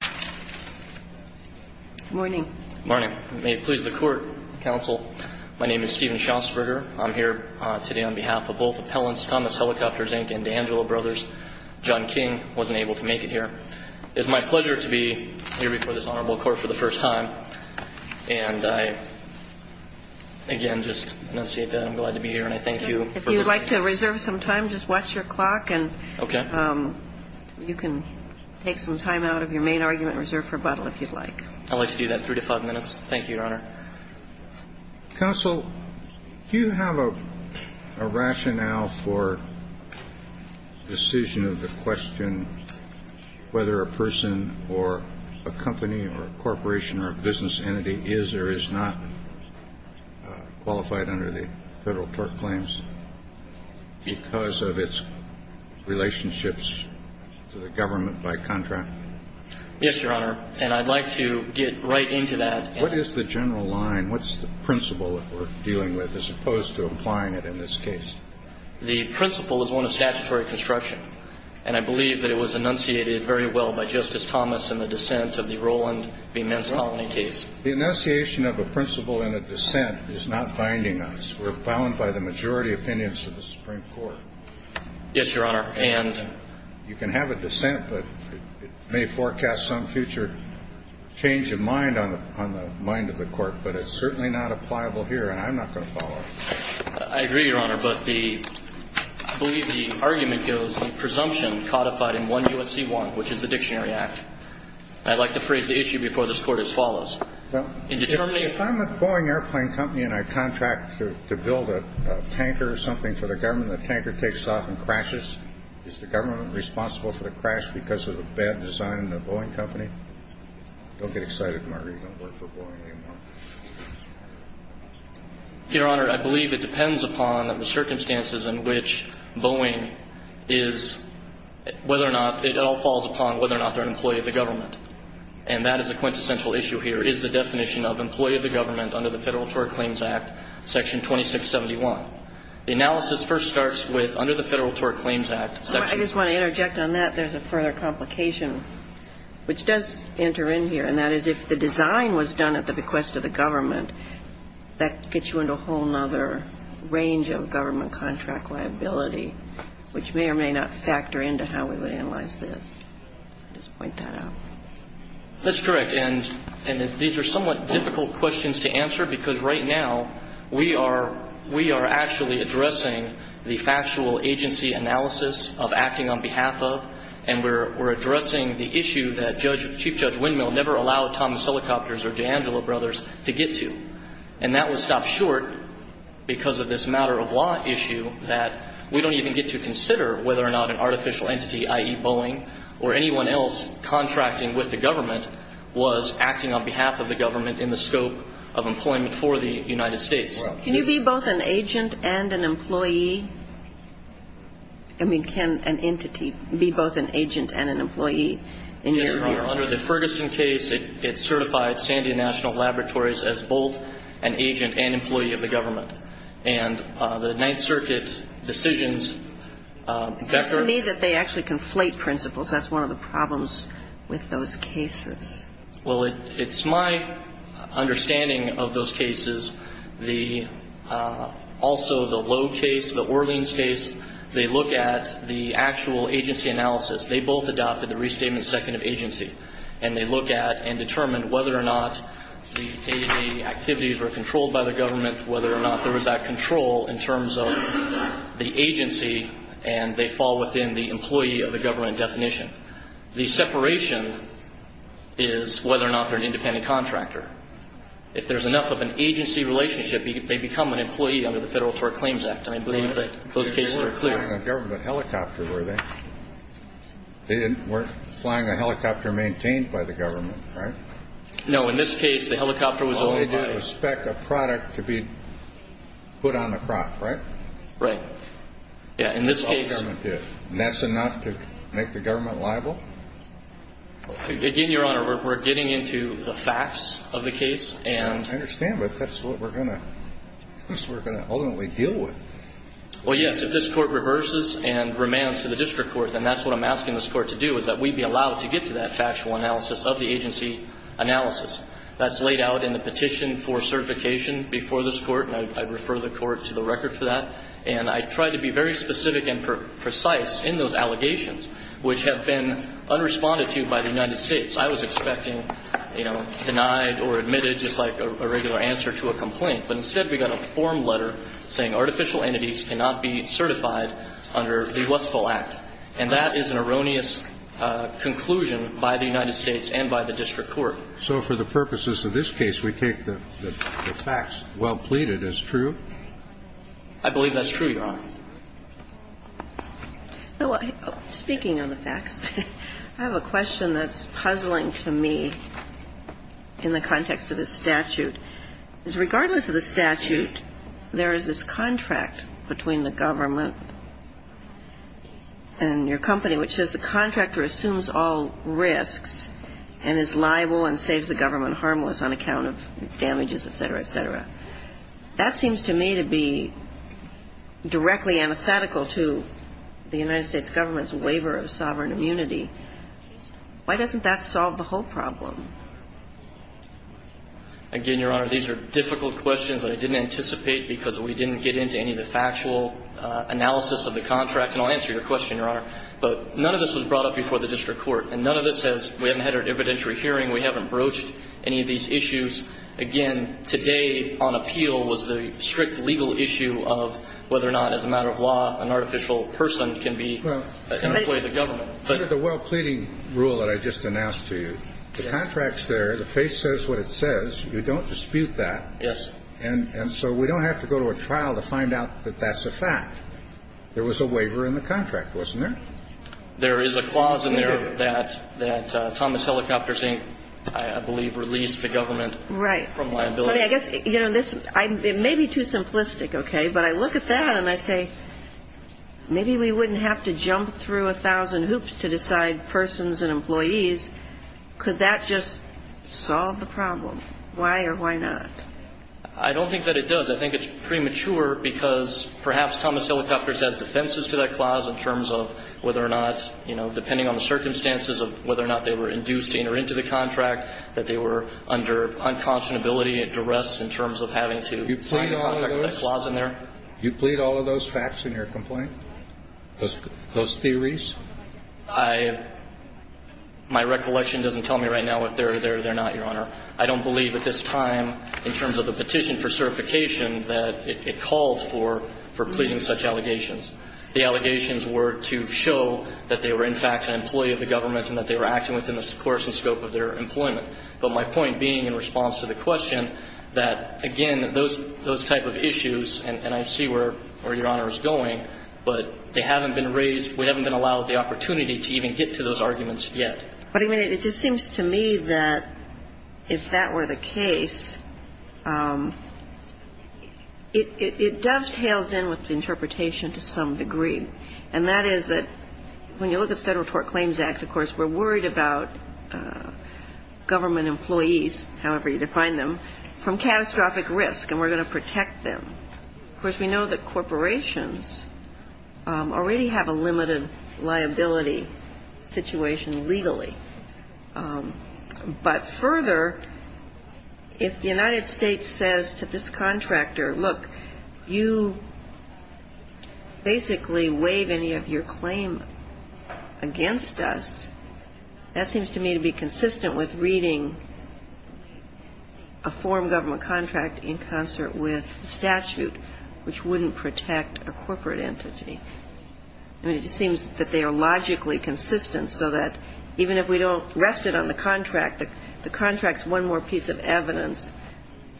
Inc. and D'Angelo Brothers, John King, wasn't able to make it here. It is my pleasure to be here before this Honorable Court for the first time. And I, again, just enunciate that I'm glad to be here and I thank you for listening. If you would like to reserve some time, just watch your clock and you can take some time out of your main argument. I'd like to do that in three to five minutes. Thank you, Your Honor. Counsel, do you have a rationale for the decision of the question whether a person or a company or a corporation or a business entity is or is not qualified under the Federal tort claims because of its relationships to the government by contract? Yes, Your Honor. And I'd like to get right into that. What is the general line? What's the principle that we're dealing with as opposed to applying it in this case? The principle is one of statutory construction. And I believe that it was enunciated very well by Justice Thomas in the dissent of the Roland v. Men's Colony case. The enunciation of a principle in a dissent is not binding us. We're bound by the majority opinions of the Supreme Court. Yes, Your Honor. And you can have a dissent, but it may forecast some future change of mind on the mind of the Court. But it's certainly not appliable here, and I'm not going to follow up. I agree, Your Honor, but the – I believe the argument goes the presumption codified in 1 U.S.C. 1, which is the Dictionary Act. I'd like to phrase the issue before this Court as follows. Well, if I'm a Boeing airplane company and I contract to build a tanker or something for the government, and the tanker takes off and crashes, is the government responsible for the crash because of the bad design in the Boeing company? Don't get excited, Margaret. You don't work for Boeing anymore. Your Honor, I believe it depends upon the circumstances in which Boeing is – whether or not – it all falls upon whether or not they're an employee of the government. And that is a quintessential issue here, is the definition of employee of the government under the Federal Tort Claims Act, Section 2671. The analysis first starts with under the Federal Tort Claims Act, Section – I just want to interject on that. There's a further complication, which does enter in here, and that is if the design was done at the bequest of the government, that gets you into a whole other range of government contract liability, which may or may not factor into how we would analyze this. Just point that out. That's correct. And these are somewhat difficult questions to answer because right now we are actually addressing the factual agency analysis of acting on behalf of, and we're addressing the issue that Chief Judge Windmill never allowed Thomas Helicopters or DeAngelo Brothers to get to. And that was stopped short because of this matter-of-law issue that we don't even get to consider whether or not an artificial entity, i.e. Boeing or anyone else contracting with the government, was acting on behalf of the government in the scope of employment for the United States. Can you be both an agent and an employee? I mean, can an entity be both an agent and an employee? Yes, Your Honor. Under the Ferguson case, it certified Sandia National Laboratories as both an agent and employee of the government. And the Ninth Circuit decisions – And to me that they actually conflate principles. That's one of the problems with those cases. Well, it's my understanding of those cases. The – also the Logue case, the Orleans case, they look at the actual agency analysis. They both adopted the Restatement Second of Agency, and they look at and determine whether or not the activities were controlled by the government, whether or not there was that control in terms of the agency, and they fall within the employee of the government definition. The separation is whether or not they're an independent contractor. If there's enough of an agency relationship, they become an employee under the Federal Tort Claims Act, and I believe that those cases are clear. They weren't flying a government helicopter, were they? They weren't flying a helicopter maintained by the government, right? No. In this case, the helicopter was owned by – It was a speck of product to be put on the crop, right? Right. Yeah, in this case – That's all the government did. And that's enough to make the government liable? Again, Your Honor, we're getting into the facts of the case, and – I understand, but that's what we're going to – that's what we're going to ultimately deal with. Well, yes, if this Court reverses and remands to the district court, then that's what I'm asking this Court to do is that we be allowed to get to that factual analysis of the agency analysis. That's laid out in the petition for certification before this Court, and I'd refer the Court to the record for that. And I tried to be very specific and precise in those allegations, which have been unresponded to by the United States. I was expecting, you know, denied or admitted just like a regular answer to a complaint, but instead we got a form letter saying artificial entities cannot be certified under the Westfall Act. And that is an erroneous conclusion by the United States and by the district court. So for the purposes of this case, we take the facts well pleaded as true? I believe that's true, Your Honor. Speaking of the facts, I have a question that's puzzling to me in the context of this statute. Because regardless of the statute, there is this contract between the government and your company which says the contractor assumes all risks and is liable and saves the government harmless on account of damages, et cetera, et cetera. That seems to me to be directly antithetical to the United States government's waiver of sovereign immunity. Why doesn't that solve the whole problem? Again, Your Honor, these are difficult questions that I didn't anticipate because we didn't get into any of the factual analysis of the contract. And I'll answer your question, Your Honor. But none of this was brought up before the district court. And none of this has we haven't had an evidentiary hearing. We haven't broached any of these issues. Again, today on appeal was the strict legal issue of whether or not as a matter of law, an artificial person can be an employee of the government. Under the well pleading rule that I just announced to you, the contract's there. The face says what it says. You don't dispute that. Yes. And so we don't have to go to a trial to find out that that's a fact. There was a waiver in the contract, wasn't there? There is a clause in there that Thomas Helicopters, I believe, released the government from liability. Right. I guess, you know, this may be too simplistic, okay, but I look at that and I say maybe we wouldn't have to jump through a thousand hoops to decide persons and employees. Could that just solve the problem? Why or why not? I don't think that it does. I think it's premature because perhaps Thomas Helicopters has defenses to that clause in terms of whether or not, you know, depending on the circumstances of whether or not they were induced to enter into the contract, that they were under unconscionability and duress in terms of having to sign a contract with that clause in there. You plead all of those facts in your complaint? Those theories? My recollection doesn't tell me right now if they're there or they're not, Your Honor. I don't believe at this time in terms of the petition for certification that it called for pleading such allegations. The allegations were to show that they were in fact an employee of the government and that they were acting within the course and scope of their employment. But my point being in response to the question that, again, those type of issues and I see where Your Honor is going, but they haven't been raised, we haven't been allowed the opportunity to even get to those arguments yet. But, I mean, it just seems to me that if that were the case, it dovetails in with the interpretation to some degree. And that is that when you look at the Federal Tort Claims Act, of course, we're worried about government employees, however you define them, from catastrophic risk and we're going to protect them. Of course, we know that corporations already have a limited liability situation legally. But further, if the United States says to this contractor, look, you basically waive any of your claim against us, that seems to me to be consistent with reading a foreign government contract in concert with statute, which wouldn't protect a corporate entity. I mean, it just seems that they are logically consistent so that even if we don't rest it on the contract, the contract's one more piece of evidence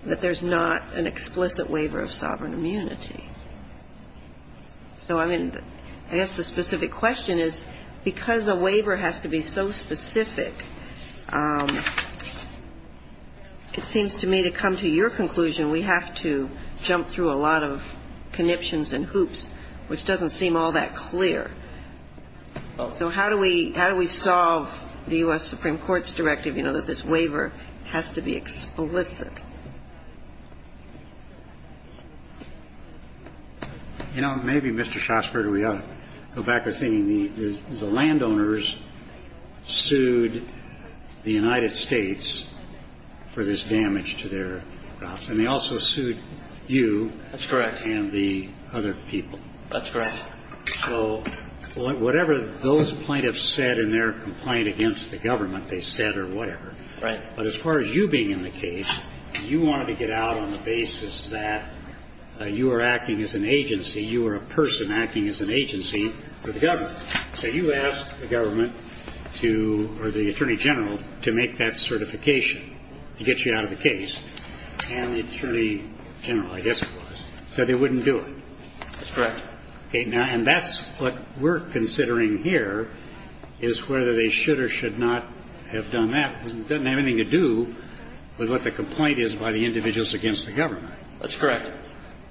that there's not an explicit waiver of sovereign immunity. So, I mean, I guess the specific question is because a waiver has to be so specific, it seems to me to come to your conclusion we have to jump through a lot of conniptions and hoops, which doesn't seem all that clear. So how do we solve the U.S. Supreme Court's directive, you know, that this waiver has to be explicit? You know, maybe, Mr. Shosker, we ought to go back to thinking the landowners sued the United States for this damage to their crops. And they also sued you. That's correct. And the other people. That's correct. So whatever those plaintiffs said in their complaint against the government, they said or whatever. Right. But as far as you being in the case, you wanted to get out on the basis that you were acting as an agency, you were a person acting as an agency for the government. So you asked the government to, or the Attorney General, to make that certification to get you out of the case. And the Attorney General, I guess it was, said they wouldn't do it. That's correct. Okay. Now, and that's what we're considering here is whether they should or should not have done that. It doesn't have anything to do with what the complaint is by the individuals against the government. That's correct.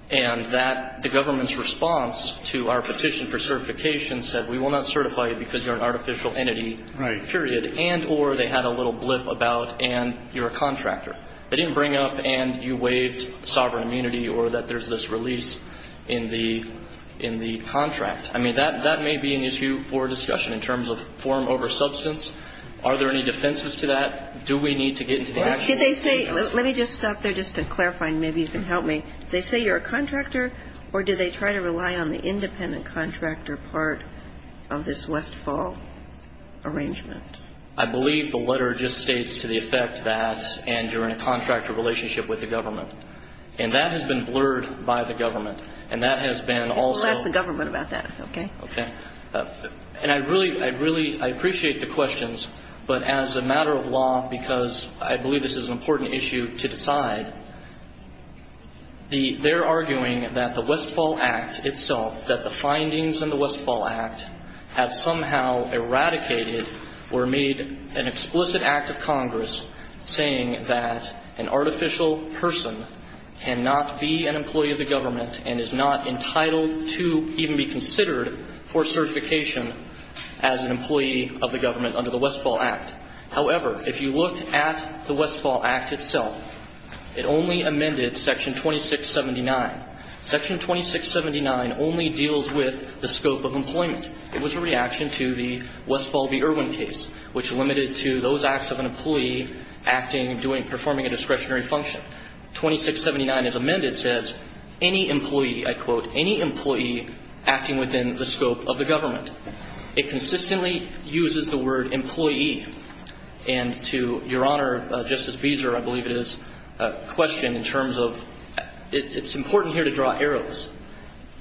And that the government's response to our petition for certification said we will not certify you because you're an artificial entity. Right. Period. And or they had a little blip about and you're a contractor. They didn't bring up and you waived sovereign immunity or that there's this release in the contract. I mean, that may be an issue for discussion in terms of form over substance. Are there any defenses to that? Do we need to get into the actual case? Did they say, let me just stop there just to clarify and maybe you can help me. Did they say you're a contractor or did they try to rely on the independent contractor part of this Westfall arrangement? I believe the letter just states to the effect that and you're in a contractor relationship with the government. And that has been blurred by the government. And that has been also. We'll ask the government about that. Okay. Okay. And I really, I really, I appreciate the questions. But as a matter of law, because I believe this is an important issue to decide, they're arguing that the Westfall Act itself, that the findings in the Westfall Act have somehow eradicated or made an explicit act of Congress saying that an artificial person cannot be an employee of the government and is not entitled to even be considered for certification as an employee of the government under the Westfall Act. However, if you look at the Westfall Act itself, it only amended section 2679. Section 2679 only deals with the scope of employment. It was a reaction to the Westfall v. Irwin case, which limited to those acts of an employee acting, doing, performing a discretionary function. Section 2679, as amended, says any employee, I quote, any employee acting within the scope of the government. It consistently uses the word employee. And to Your Honor, Justice Beezer, I believe it is, question in terms of, it's important here to draw arrows.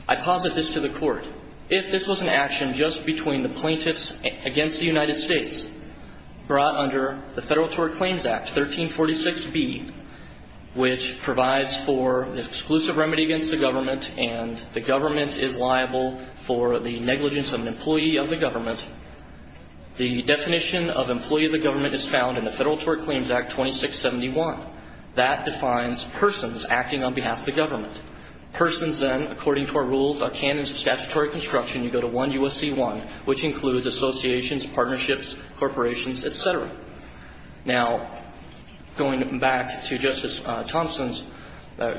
I posit this to the Court. If this was an action just between the plaintiffs against the United States brought under the Federal Tort Claims Act, 1346B, which provides for the exclusive remedy against the government and the government is liable for the negligence of an employee of the government, the definition of employee of the government is found in the Federal Tort Claims Act 2671. That defines persons acting on behalf of the government. Persons, then, according to our rules, our canons of statutory construction, you go to 1 U.S.C. 1, which includes associations, partnerships, corporations, et cetera. Now, going back to Justice Thompson's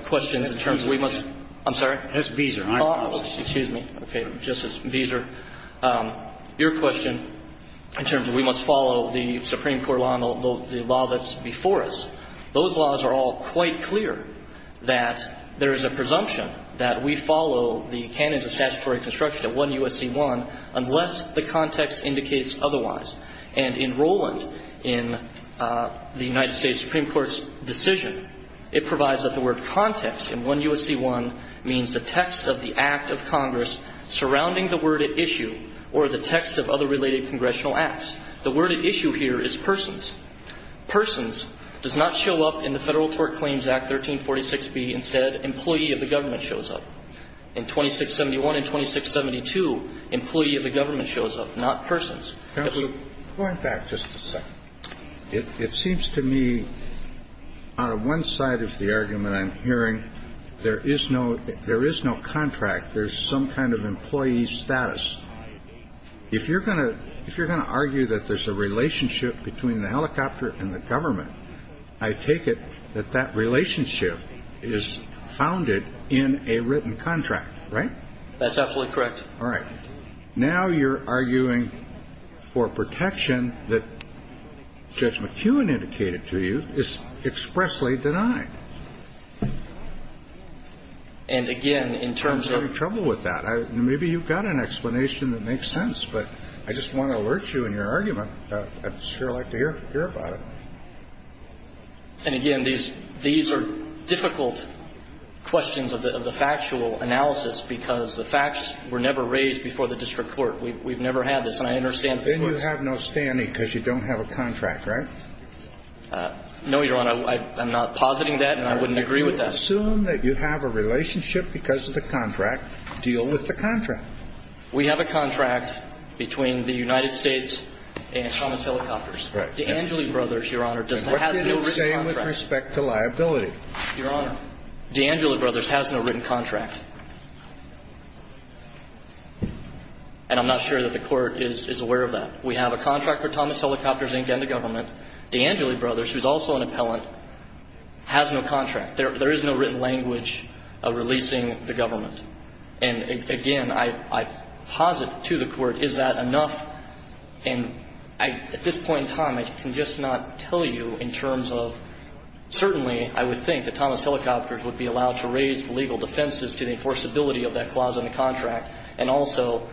questions in terms of we must, I'm sorry? That's Beezer. Oh, excuse me. Okay. Justice Beezer, your question in terms of we must follow the Supreme Court law and the law that's before us, those laws are all quite clear that there is a presumption that we follow the canons of statutory construction at 1 U.S.C. 1 unless the context indicates otherwise. And in Rowland, in the United States Supreme Court's decision, it provides that the word context in 1 U.S.C. 1 means the text of the act of Congress surrounding the word at issue or the text of other related congressional acts. The word at issue here is persons. Persons does not show up in the Federal Tort Claims Act 1346B and said employee of the government shows up. In 2671 and 2672, employee of the government shows up, not persons. Counsel, going back just a second. It seems to me on one side of the argument I'm hearing, there is no contract. There's some kind of employee status. If you're going to argue that there's a relationship between the helicopter and the government, I take it that that relationship is founded in a written contract, right? That's absolutely correct. All right. Now you're arguing for protection that Judge McKeown indicated to you is expressly denied. And again, in terms of the ---- I'm having trouble with that. Maybe you've got an explanation that makes sense, but I just want to alert you in your argument. I'd sure like to hear about it. And again, these are difficult questions of the factual analysis because the facts were never raised before the district court. We've never had this. And I understand ---- Then you have no standing because you don't have a contract, right? No, Your Honor. I'm not positing that and I wouldn't agree with that. Assume that you have a relationship because of the contract. Deal with the contract. We have a contract between the United States and Thomas Helicopters. DeAngeli Brothers, Your Honor, does not have a written contract. What did you say with respect to liability? Your Honor, DeAngeli Brothers has no written contract. And I'm not sure that the Court is aware of that. We have a contract for Thomas Helicopters, Inc. and the government. DeAngeli Brothers, who's also an appellant, has no contract. There is no written language of releasing the government. And again, I posit to the Court, is that enough? And at this point in time, I can just not tell you in terms of certainly I would think that Thomas Helicopters would be allowed to raise legal defenses to the enforceability of that clause in the contract and also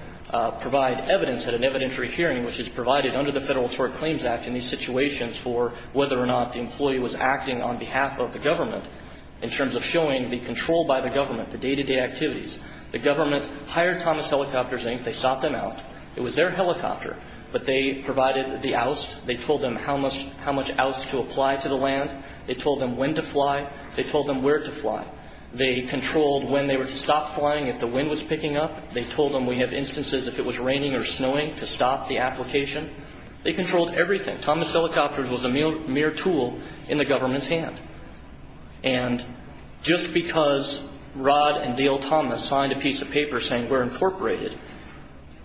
provide evidence at an evidentiary hearing, which is provided under the Federal Tort Claims Act in these situations for whether or not the employee was acting on behalf of the government in terms of showing the control by the government, the day-to-day activities. The government hired Thomas Helicopters, Inc. They sought them out. It was their helicopter. But they provided the oust. They told them how much oust to apply to the land. They told them when to fly. They told them where to fly. They controlled when they were to stop flying, if the wind was picking up. They told them we have instances if it was raining or snowing to stop the application. They controlled everything. Thomas Helicopters was a mere tool in the government's hand. And just because Rod and Dale Thomas signed a piece of paper saying we're incorporated,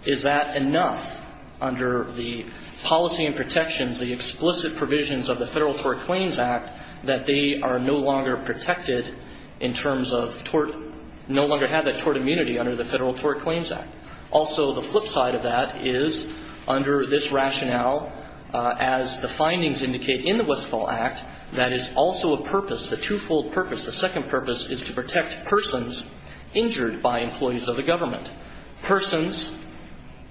is that enough under the policy and protections, the explicit provisions of the Federal Tort Claims Act that they are no longer protected in terms of tort, no longer have that tort immunity under the Federal Tort Claims Act? Also, the flip side of that is under this rationale, as the findings indicate in the purpose, the twofold purpose, the second purpose is to protect persons injured by employees of the government. Persons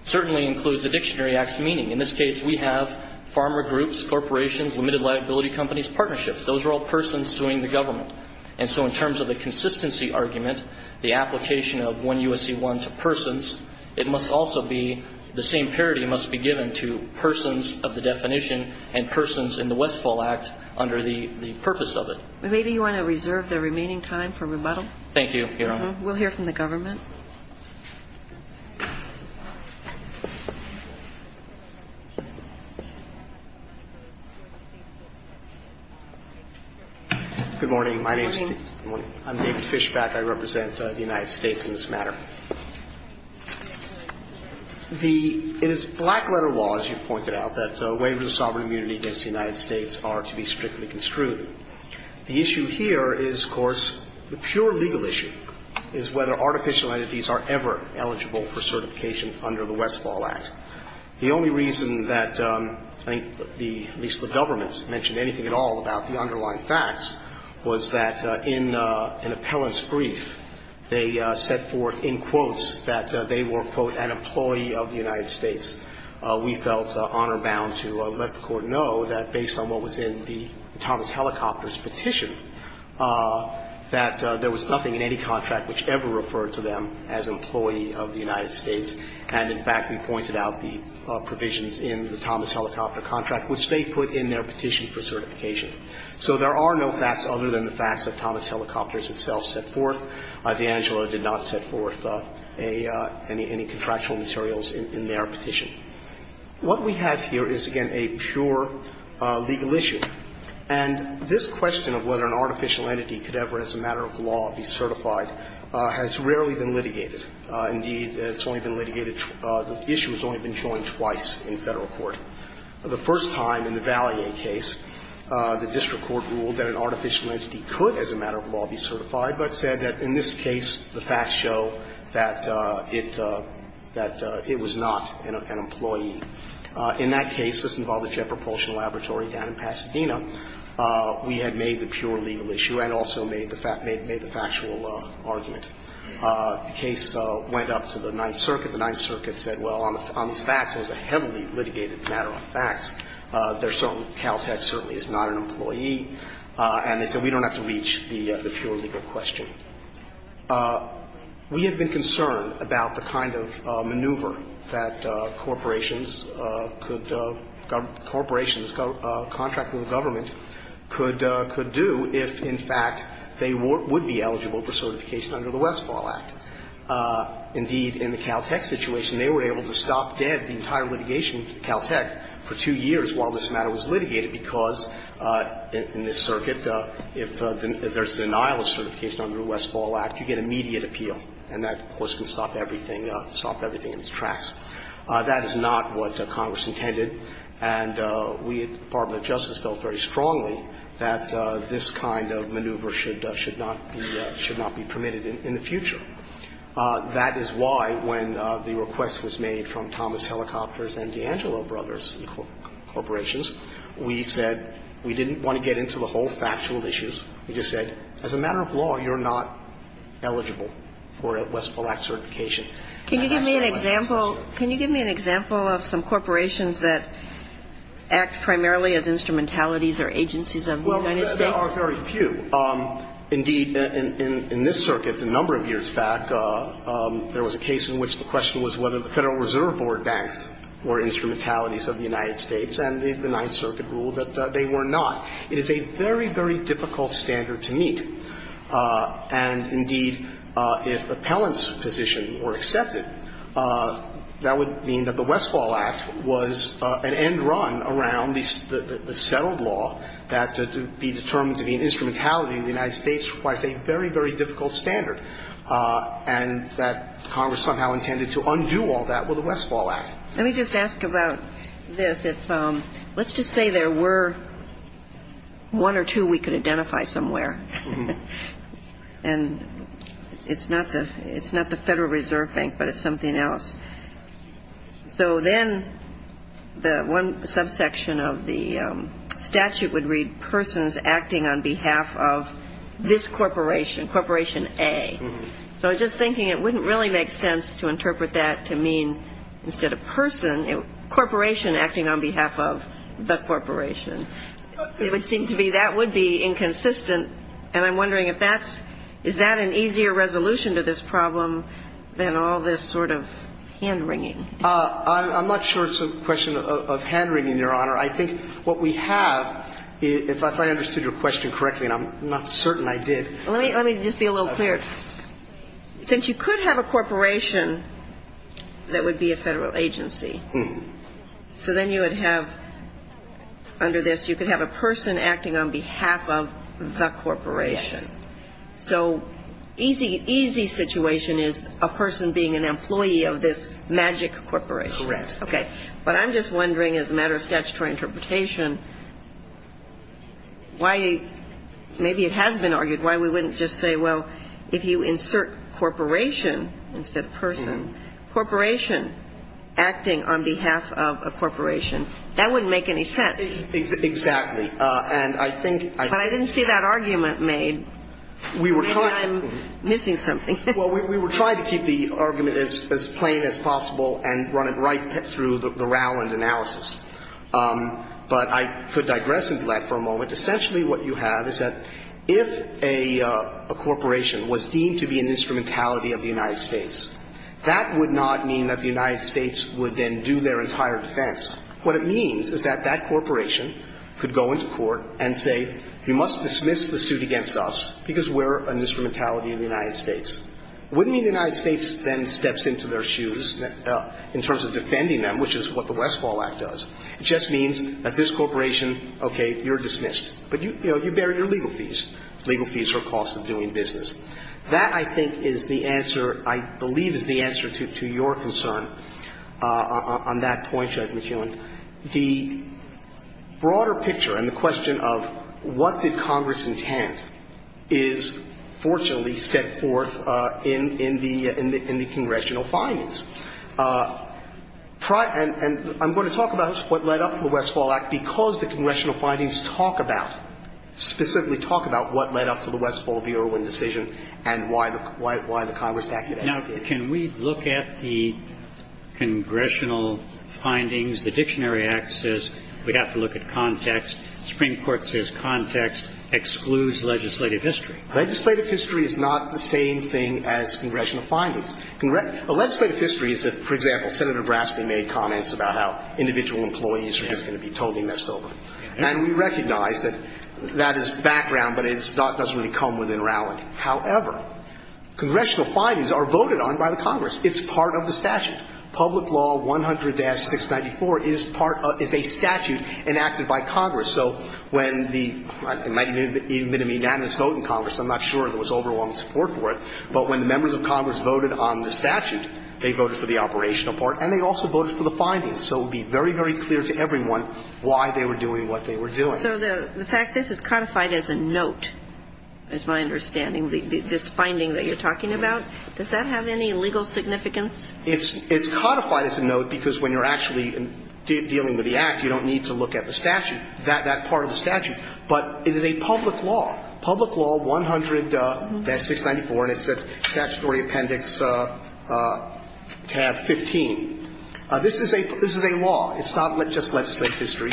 certainly includes the Dictionary Act's meaning. In this case, we have farmer groups, corporations, limited liability companies, partnerships. Those are all persons suing the government. And so in terms of the consistency argument, the application of 1 U.S.C. 1 to persons, it must also be the same parity must be given to persons of the definition and persons in the definition of the term that we're talking about, who are currently in the United States. That's the first part of it. Maybe you want to reserve the remaining time for rebuttal. Thank you, Your Honor. We'll hear from the government. Good morning. I'm David Fishback, I represent the United States in this matter. It is black-letter law, as you pointed out, that waivers of sovereign immunity against the United States are to be strictly construed. The issue here is, of course, the pure legal issue is whether artificial entities are ever eligible for certification under the Westfall Act. The only reason that I think at least the government mentioned anything at all about the underlying facts was that in an appellant's brief, they set forth in quotes that they were, quote, an employee of the United States. We felt honor bound to let the Court know that based on what was in the Thomas Helicopter's petition, that there was nothing in any contract which ever referred to them as employee of the United States. And, in fact, we pointed out the provisions in the Thomas Helicopter contract which they put in their petition for certification. So there are no facts other than the facts that Thomas Helicopter itself set forth. D'Angelo did not set forth any contractual materials in their petition. What we have here is, again, a pure legal issue. And this question of whether an artificial entity could ever, as a matter of law, be certified has rarely been litigated. Indeed, it's only been litigated, the issue has only been joined twice in Federal court. The first time, in the Vallier case, the district court ruled that an artificial entity could, as a matter of law, be certified, but said that in this case, the facts show that it was not an employee. In that case, this involved the Jet Propulsion Laboratory down in Pasadena. We had made the pure legal issue and also made the factual argument. The case went up to the Ninth Circuit. The Ninth Circuit said, well, on these facts, it was a heavily litigated matter on facts. There's certain Cal Tech certainly is not an employee. And they said, we don't have to reach the pure legal question. We have been concerned about the kind of maneuver that corporations could go, corporations contracting the government could do if, in fact, they would be eligible for certification under the Westfall Act. Indeed, in the Cal Tech situation, they were able to stop dead the entire litigation of Cal Tech for two years while this matter was litigated, because in this circuit, if there's a denial of certification under the Westfall Act, you get immediate appeal, and that, of course, can stop everything in its tracks. That is not what Congress intended, and we at the Department of Justice felt very That is why, when the request was made from Thomas Helicopters and D'Angelo Brothers Corporations, we said we didn't want to get into the whole factual issues. We just said, as a matter of law, you're not eligible for a Westfall Act certification. And that's what we said. Can you give me an example of some corporations that act primarily as instrumentalities or agencies of the United States? Well, there are very few. Indeed, in this circuit a number of years back, there was a case in which the question was whether the Federal Reserve Board banks were instrumentalities of the United States, and the Ninth Circuit ruled that they were not. It is a very, very difficult standard to meet. And, indeed, if appellants' positions were accepted, that would mean that the Westfall Act was an end run around the settled law that to be determined to be an instrumentality of the United States requires a very, very difficult standard, and that Congress somehow intended to undo all that with the Westfall Act. Let me just ask about this. Let's just say there were one or two we could identify somewhere. And it's not the Federal Reserve Bank, but it's something else. So then the one subsection of the statute would read persons acting on behalf of this corporation, Corporation A. So I was just thinking it wouldn't really make sense to interpret that to mean instead of person, corporation acting on behalf of the corporation. It would seem to be that would be inconsistent, and I'm wondering if that's an easier resolution to this problem than all this sort of hand-wringing. I'm not sure it's a question of hand-wringing, Your Honor. I think what we have, if I understood your question correctly, and I'm not certain I did. Let me just be a little clearer. Since you could have a corporation that would be a Federal agency, so then you would have under this, you could have a person acting on behalf of the corporation. Yes. So easy, easy situation is a person being an employee of this magic corporation. Correct. Okay. But I'm just wondering, as a matter of statutory interpretation, why maybe it has been argued why we wouldn't just say, well, if you insert corporation instead of person, corporation acting on behalf of a corporation, that wouldn't make any sense. Exactly. But I didn't see that argument made. Maybe I'm missing something. Well, we were trying to keep the argument as plain as possible and run it right through the Rowland analysis. But I could digress into that for a moment. Essentially what you have is that if a corporation was deemed to be an instrumentality of the United States, that would not mean that the United States would then do their entire defense. What it means is that that corporation could go into court and say, you must dismiss the suit against us because we're an instrumentality of the United States. It wouldn't mean the United States then steps into their shoes in terms of defending them, which is what the Westfall Act does. It just means that this corporation, okay, you're dismissed. But, you know, you bear your legal fees, legal fees for cost of doing business. That, I think, is the answer, I believe is the answer to your concern on that point, Judge McKeown. The broader picture and the question of what did Congress intend is fortunately set forth in the congressional findings. And I'm going to talk about what led up to the Westfall Act because the congressional findings talk about, specifically talk about what led up to the Westfall v. Irwin decision and why the Congress acted as it did. Now, can we look at the congressional findings? The Dictionary Act says we have to look at context. The Supreme Court says context excludes legislative history. Legislative history is not the same thing as congressional findings. The legislative history is that, for example, Senator Brasley made comments about how individual employees are just going to be totally messed over. And we recognize that that is background, but it's not going to come within Rowland. However, congressional findings are voted on by the Congress. It's part of the statute. Public Law 100-694 is part of the statute enacted by Congress. So when the – it might have even been a unanimous vote in Congress. I'm not sure there was overwhelming support for it. But when the members of Congress voted on the statute, they voted for the operational part and they also voted for the findings. So it would be very, very clear to everyone why they were doing what they were doing. So the fact this is codified as a note, is my understanding, this finding that you're talking about, does that have any legal significance? It's codified as a note because when you're actually dealing with the Act, you don't need to look at the statute, that part of the statute. But it is a public law. Public Law 100-694, and it's at Statutory Appendix Tab 15. This is a law. It's not just legislative history.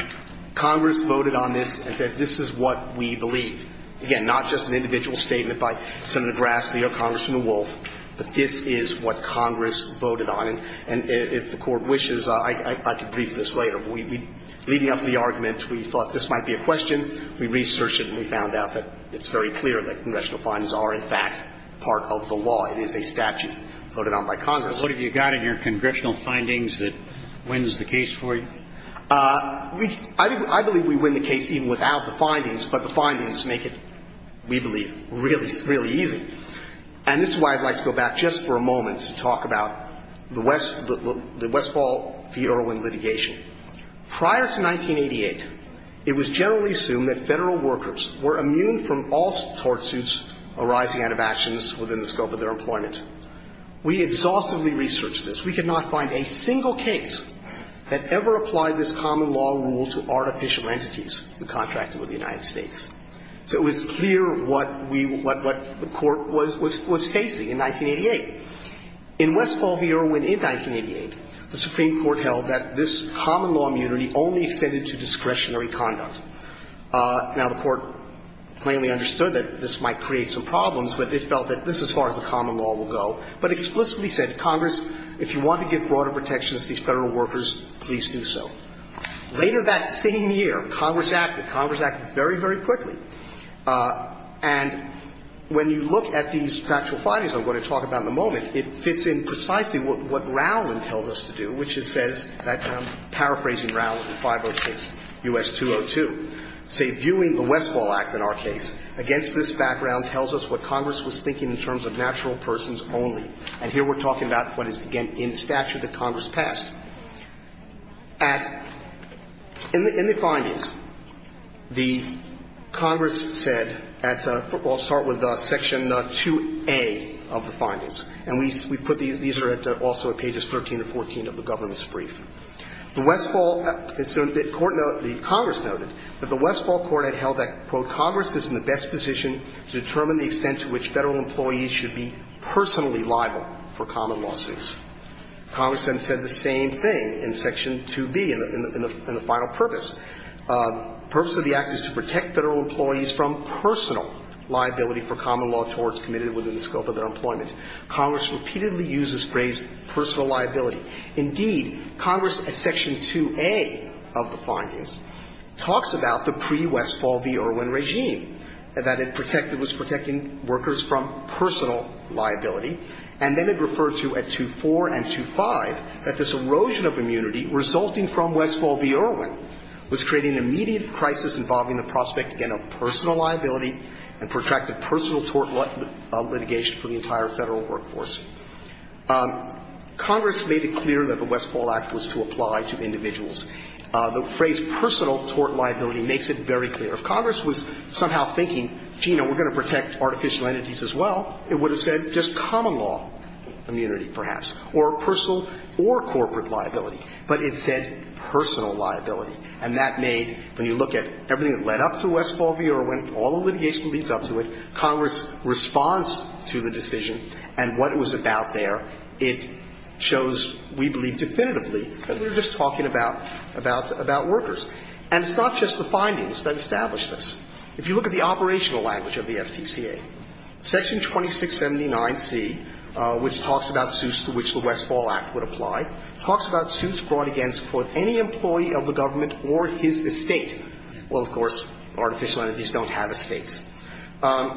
Congress voted on this and said this is what we believe. Again, not just an individual statement by Senator Grassley or Congressman Wolf, but this is what Congress voted on. And if the Court wishes, I could brief this later. We – leading up to the argument, we thought this might be a question. We researched it and we found out that it's very clear that congressional findings are, in fact, part of the law. It is a statute voted on by Congress. What have you got in your congressional findings that wins the case for you? I believe we win the case even without the findings, but the findings make it, we believe, really, really easy. And this is why I'd like to go back just for a moment to talk about the Westfall v. Irwin litigation. Prior to 1988, it was generally assumed that Federal workers were immune from all tort suits arising out of actions within the scope of their employment. We exhaustively researched this. We could not find a single case that ever applied this common law rule to artificial entities who contracted with the United States. So it was clear what we – what the Court was facing in 1988. In Westfall v. Irwin in 1988, the Supreme Court held that this common law immunity only extended to discretionary conduct. Now, the Court plainly understood that this might create some problems, but it felt that this is as far as the common law will go, but explicitly said, Congress, if you want to give broader protections to these Federal workers, please do so. Later that same year, Congress acted. Congress acted very, very quickly. And when you look at these factual findings I'm going to talk about in a moment, it fits in precisely what Rowland tells us to do, which is says, paraphrasing Rowland in 506 U.S. 202, say, viewing the Westfall Act in our case against this background tells us what Congress was thinking in terms of natural persons only. And here we're talking about what is, again, in statute that Congress passed. At – in the findings, the Congress said at – I'll start with section 2A of the findings. And we put these – these are also at pages 13 and 14 of the government's brief. The Westfall – the Court – the Congress noted that the Westfall Court had held that, quote, Congress then said the same thing in section 2B in the – in the final purpose. Purpose of the act is to protect Federal employees from personal liability for common law towards committed within the scope of their employment. Congress repeatedly uses phrase personal liability. Indeed, Congress at section 2A of the findings talks about the pre-Westfall v. Irwin regime. That it protected – was protecting workers from personal liability. And then it referred to at 2.4 and 2.5 that this erosion of immunity resulting from Westfall v. Irwin was creating an immediate crisis involving the prospect, again, of personal liability and protracted personal tort litigation for the entire Federal workforce. Congress made it clear that the Westfall Act was to apply to individuals. The phrase personal tort liability makes it very clear. If Congress was somehow thinking, gee, you know, we're going to protect artificial entities as well, it would have said just common law immunity, perhaps, or personal or corporate liability. But it said personal liability. And that made, when you look at everything that led up to Westfall v. Irwin, all the litigation leads up to it. Congress responds to the decision and what it was about there. It shows, we believe definitively, that we're just talking about workers. And it's not just the findings that established this. If you look at the operational language of the FTCA, Section 2679C, which talks about Seuss to which the Westfall Act would apply, talks about Seuss brought against quote any employee of the government or his estate. Well, of course, artificial entities don't have estates. The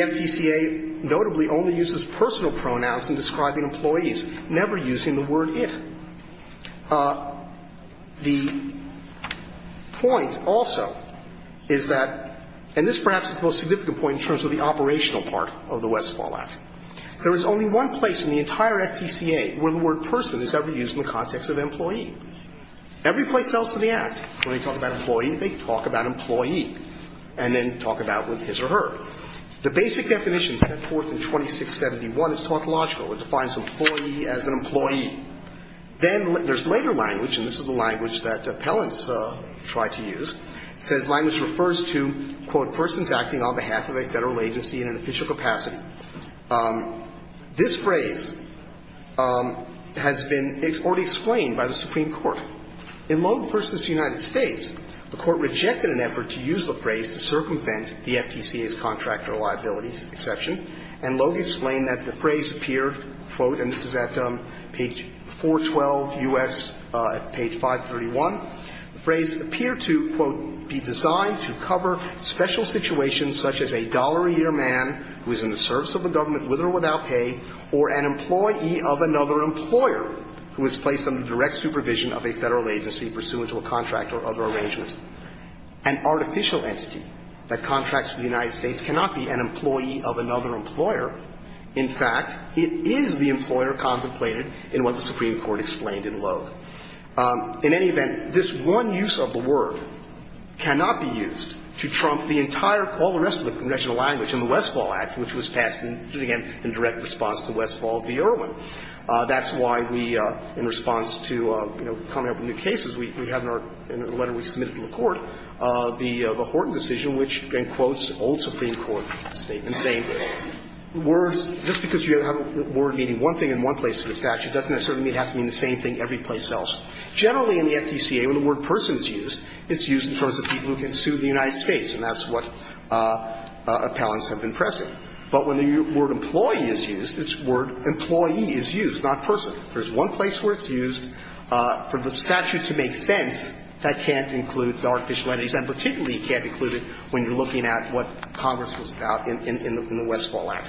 FTCA notably only uses personal pronouns in describing employees, never using the word if. The point also is that, and this perhaps is the most significant point in terms of the operational part of the Westfall Act, there is only one place in the entire FTCA where the word person is ever used in the context of employee. Every place else in the Act, when they talk about employee, they talk about employee and then talk about with his or her. The basic definition set forth in 2671 is tautological. It defines employee as an employee. Then there's later language, and this is the language that appellants try to use. It says language refers to, quote, persons acting on behalf of a Federal agency in an official capacity. This phrase has been already explained by the Supreme Court. In Loeb v. United States, the Court rejected an effort to use the phrase to circumvent the FTCA's contractor liabilities exception, and Loeb explained that the phrase appeared, quote, and this is at page 412 U.S., page 531, the phrase appeared to, quote, be designed to cover special situations such as a dollar-a-year man who is in the service of the government with or without pay or an employee of another employer who is placed under direct supervision of a Federal agency pursuant to a contract or other arrangement. An artificial entity that contracts with the United States cannot be an employee of another employer. In fact, it is the employer contemplated in what the Supreme Court explained in Loeb. In any event, this one use of the word cannot be used to trump the entire, all the rest of the congressional language in the Westfall Act, which was passed, and again, in direct response to Westfall v. Irwin. That's why we, in response to, you know, coming up with new cases, we have in our letter we submitted to the Court the Horton decision, which, in quotes, old Supreme Court statement, saying words, just because you have a word meaning one thing in one place in the statute doesn't necessarily mean it has to mean the same thing every place else. Generally, in the FTCA, when the word person is used, it's used in terms of people who can sue the United States, and that's what appellants have been pressing. But when the word employee is used, it's word employee is used, not person. There's one place where it's used for the statute to make sense that can't include the artificial entities, and particularly it can't include it when you're looking at what Congress was about in the Westfall Act.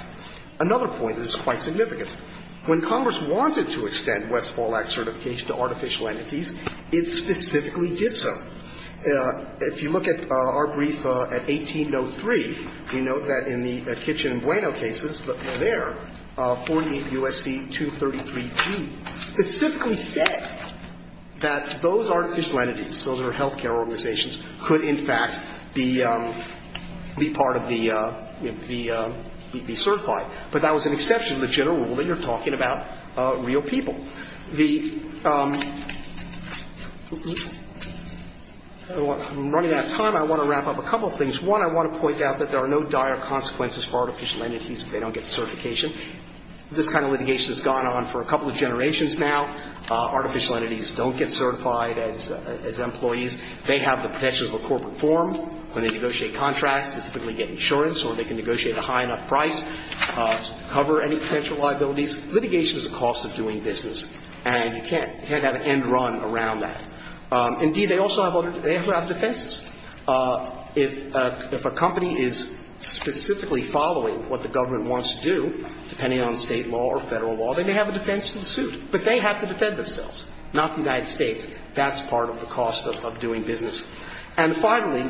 Another point that is quite significant, when Congress wanted to extend Westfall Act certification to artificial entities, it specifically did so. If you look at our brief at 1803, you note that in the Kitchen and Bueno cases, there, 48 U.S.C. 233G specifically said that those artificial entities, those that are health care organizations, could in fact be part of the, be certified. But that was an exception to the general rule that you're talking about real people. The – I'm running out of time. I want to wrap up a couple of things. One, I want to point out that there are no dire consequences for artificial entities if they don't get certification. This kind of litigation has gone on for a couple of generations now. Artificial entities don't get certified as employees. They have the potential of a corporate form. When they negotiate contracts, they typically get insurance, or they can negotiate a high enough price to cover any potential liabilities. Litigation is a cost of doing business, and you can't have an end run around that. Indeed, they also have other – they have to have defenses. If a company is specifically following what the government wants to do, depending on State law or Federal law, they may have a defense to the suit. But they have to defend themselves, not the United States. That's part of the cost of doing business. And finally,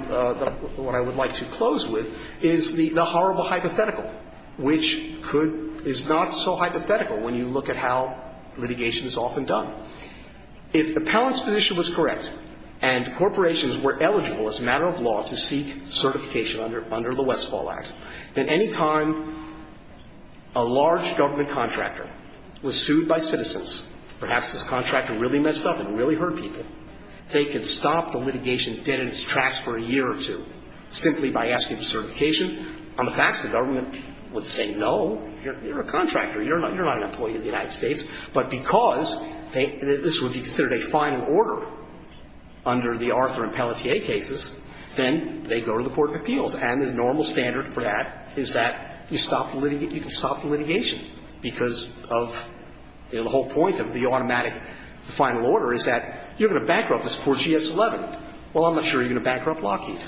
what I would like to close with is the horrible hypothetical, which could – is not so hypothetical when you look at how litigation is often done. If the Pallant's position was correct, and corporations were eligible as a matter of law to seek certification under the Westfall Act, then any time a large government contractor was sued by citizens – perhaps this contractor really messed up and really hurt people – they could stop the litigation dead in its tracks for a year or two simply by asking for certification. On the facts, the government would say, no, you're a contractor. You're not an employee of the United States. But because they – this would be considered a final order under the Arthur and Pelletier cases, then they go to the Court of Appeals. And the normal standard for that is that you stop the – you can stop the litigation because of – you know, the whole point of the automatic final order is that you're going to bankrupt this poor GS11. Well, I'm not sure you're going to bankrupt Lockheed.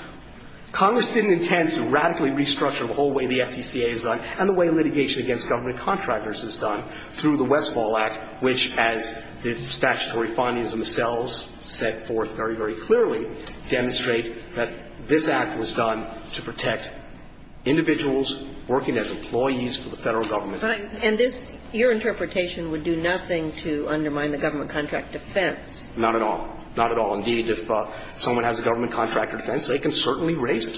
Congress didn't intend to radically restructure the whole way the FTCA is done and the way litigation against government contractors is done through the Westfall Act, which, as the statutory findings themselves set forth very, very clearly, demonstrate that this Act was done to protect individuals working as employees for the Federal Government. But I – and this – your interpretation would do nothing to undermine the government contract defense. Not at all. Indeed, if someone has a government contractor defense, they can stop the litigation and certainly raise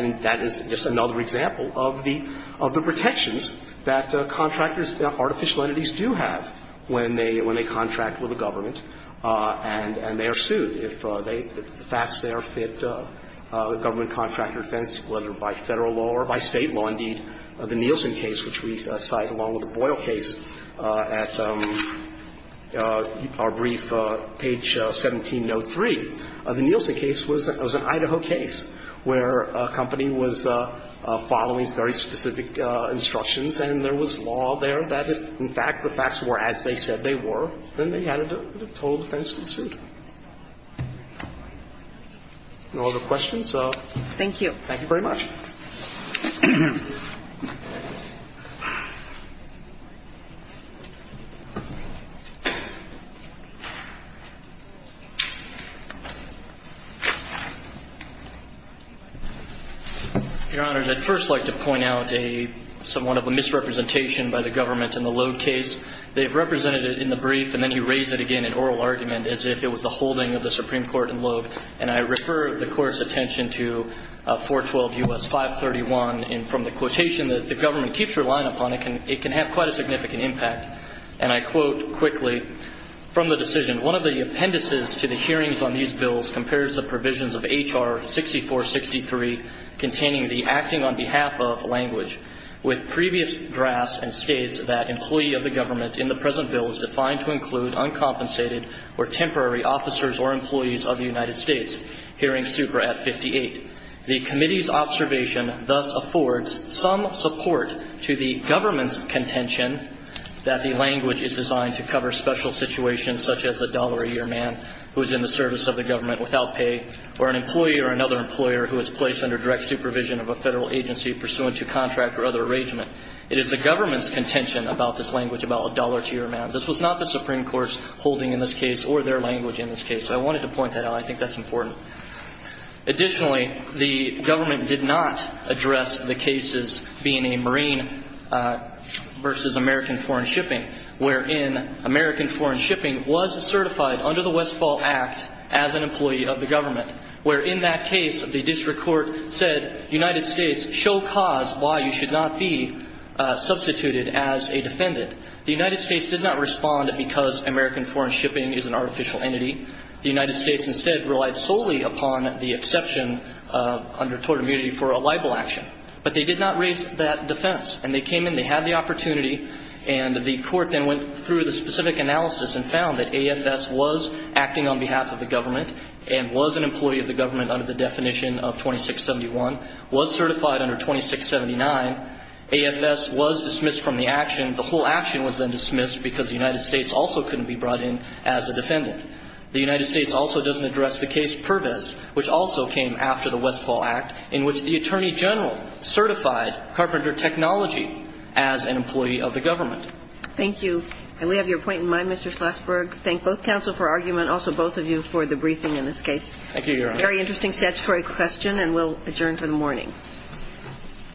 it. And that is just another example of the – of the protections that contractors – artificial entities do have when they – when they contract with the government and they are sued if they – if that's their fit, the government contractor defense, whether by Federal law or by State law. Indeed, the Nielsen case, which we cite along with the Boyle case at our brief, page 1703, the Nielsen case was an – was an Idaho case where a company was following very specific instructions and there was law there that if, in fact, the facts were as they said they were, then they had a total defense to suit. No other questions? Thank you. Thank you very much. Your Honors, I'd first like to point out a – somewhat of a misrepresentation by the government in the Logue case. They've represented it in the brief and then he raised it again in oral argument as if it was the holding of the Supreme Court in Logue. And I refer the Court's attention to 412 U.S. 531 and from the quotation that the government keeps relying upon, it can – it can have quite a significant impact. And I quote quickly from the decision, One of the appendices to the hearings on these bills compares the provisions of H.R. 6463 containing the acting on behalf of language with previous drafts and states that employee of the government in the present bill is defined to include uncompensated or temporary officers or employees of the United States. Hearing Supra at 58. The committee's observation thus affords some support to the government's contention that the language is designed to cover special situations such as a dollar a year man who is in the service of the government without pay or an employee or another employer who is placed under direct supervision of a Federal agency pursuant to contract or other arrangement. It is the government's contention about this language about a dollar a year man. This was not the Supreme Court's holding in this case or their language in this case. I wanted to point that out. I think that's important. Additionally, the government did not address the cases being a Marine versus American foreign shipping wherein American foreign shipping was certified under the Westfall Act as an employee of the government wherein that case the district court said United States shall cause why you should not be substituted as a defendant. The United States did not respond because American foreign shipping is an artificial entity. The United States instead relied solely upon the exception under total immunity for a libel action. But they did not raise that defense. And they came in, they had the opportunity, and the court then went through the specific analysis and found that AFS was acting on behalf of the government and was an employee of the government under the definition of 2671, was certified under 2679, AFS was dismissed from the action. And the whole action was then dismissed because the United States also couldn't be brought in as a defendant. The United States also doesn't address the case Pervis which also came after the Westfall Act in which the Attorney General certified Carpenter Technology as an employee of the government. Thank you. And we have your point in mind, Mr. Schlossberg. Thank both counsel for argument, also both of you for the briefing in this case. Thank you, Your Honor. Very interesting statutory question, and we'll adjourn for the morning.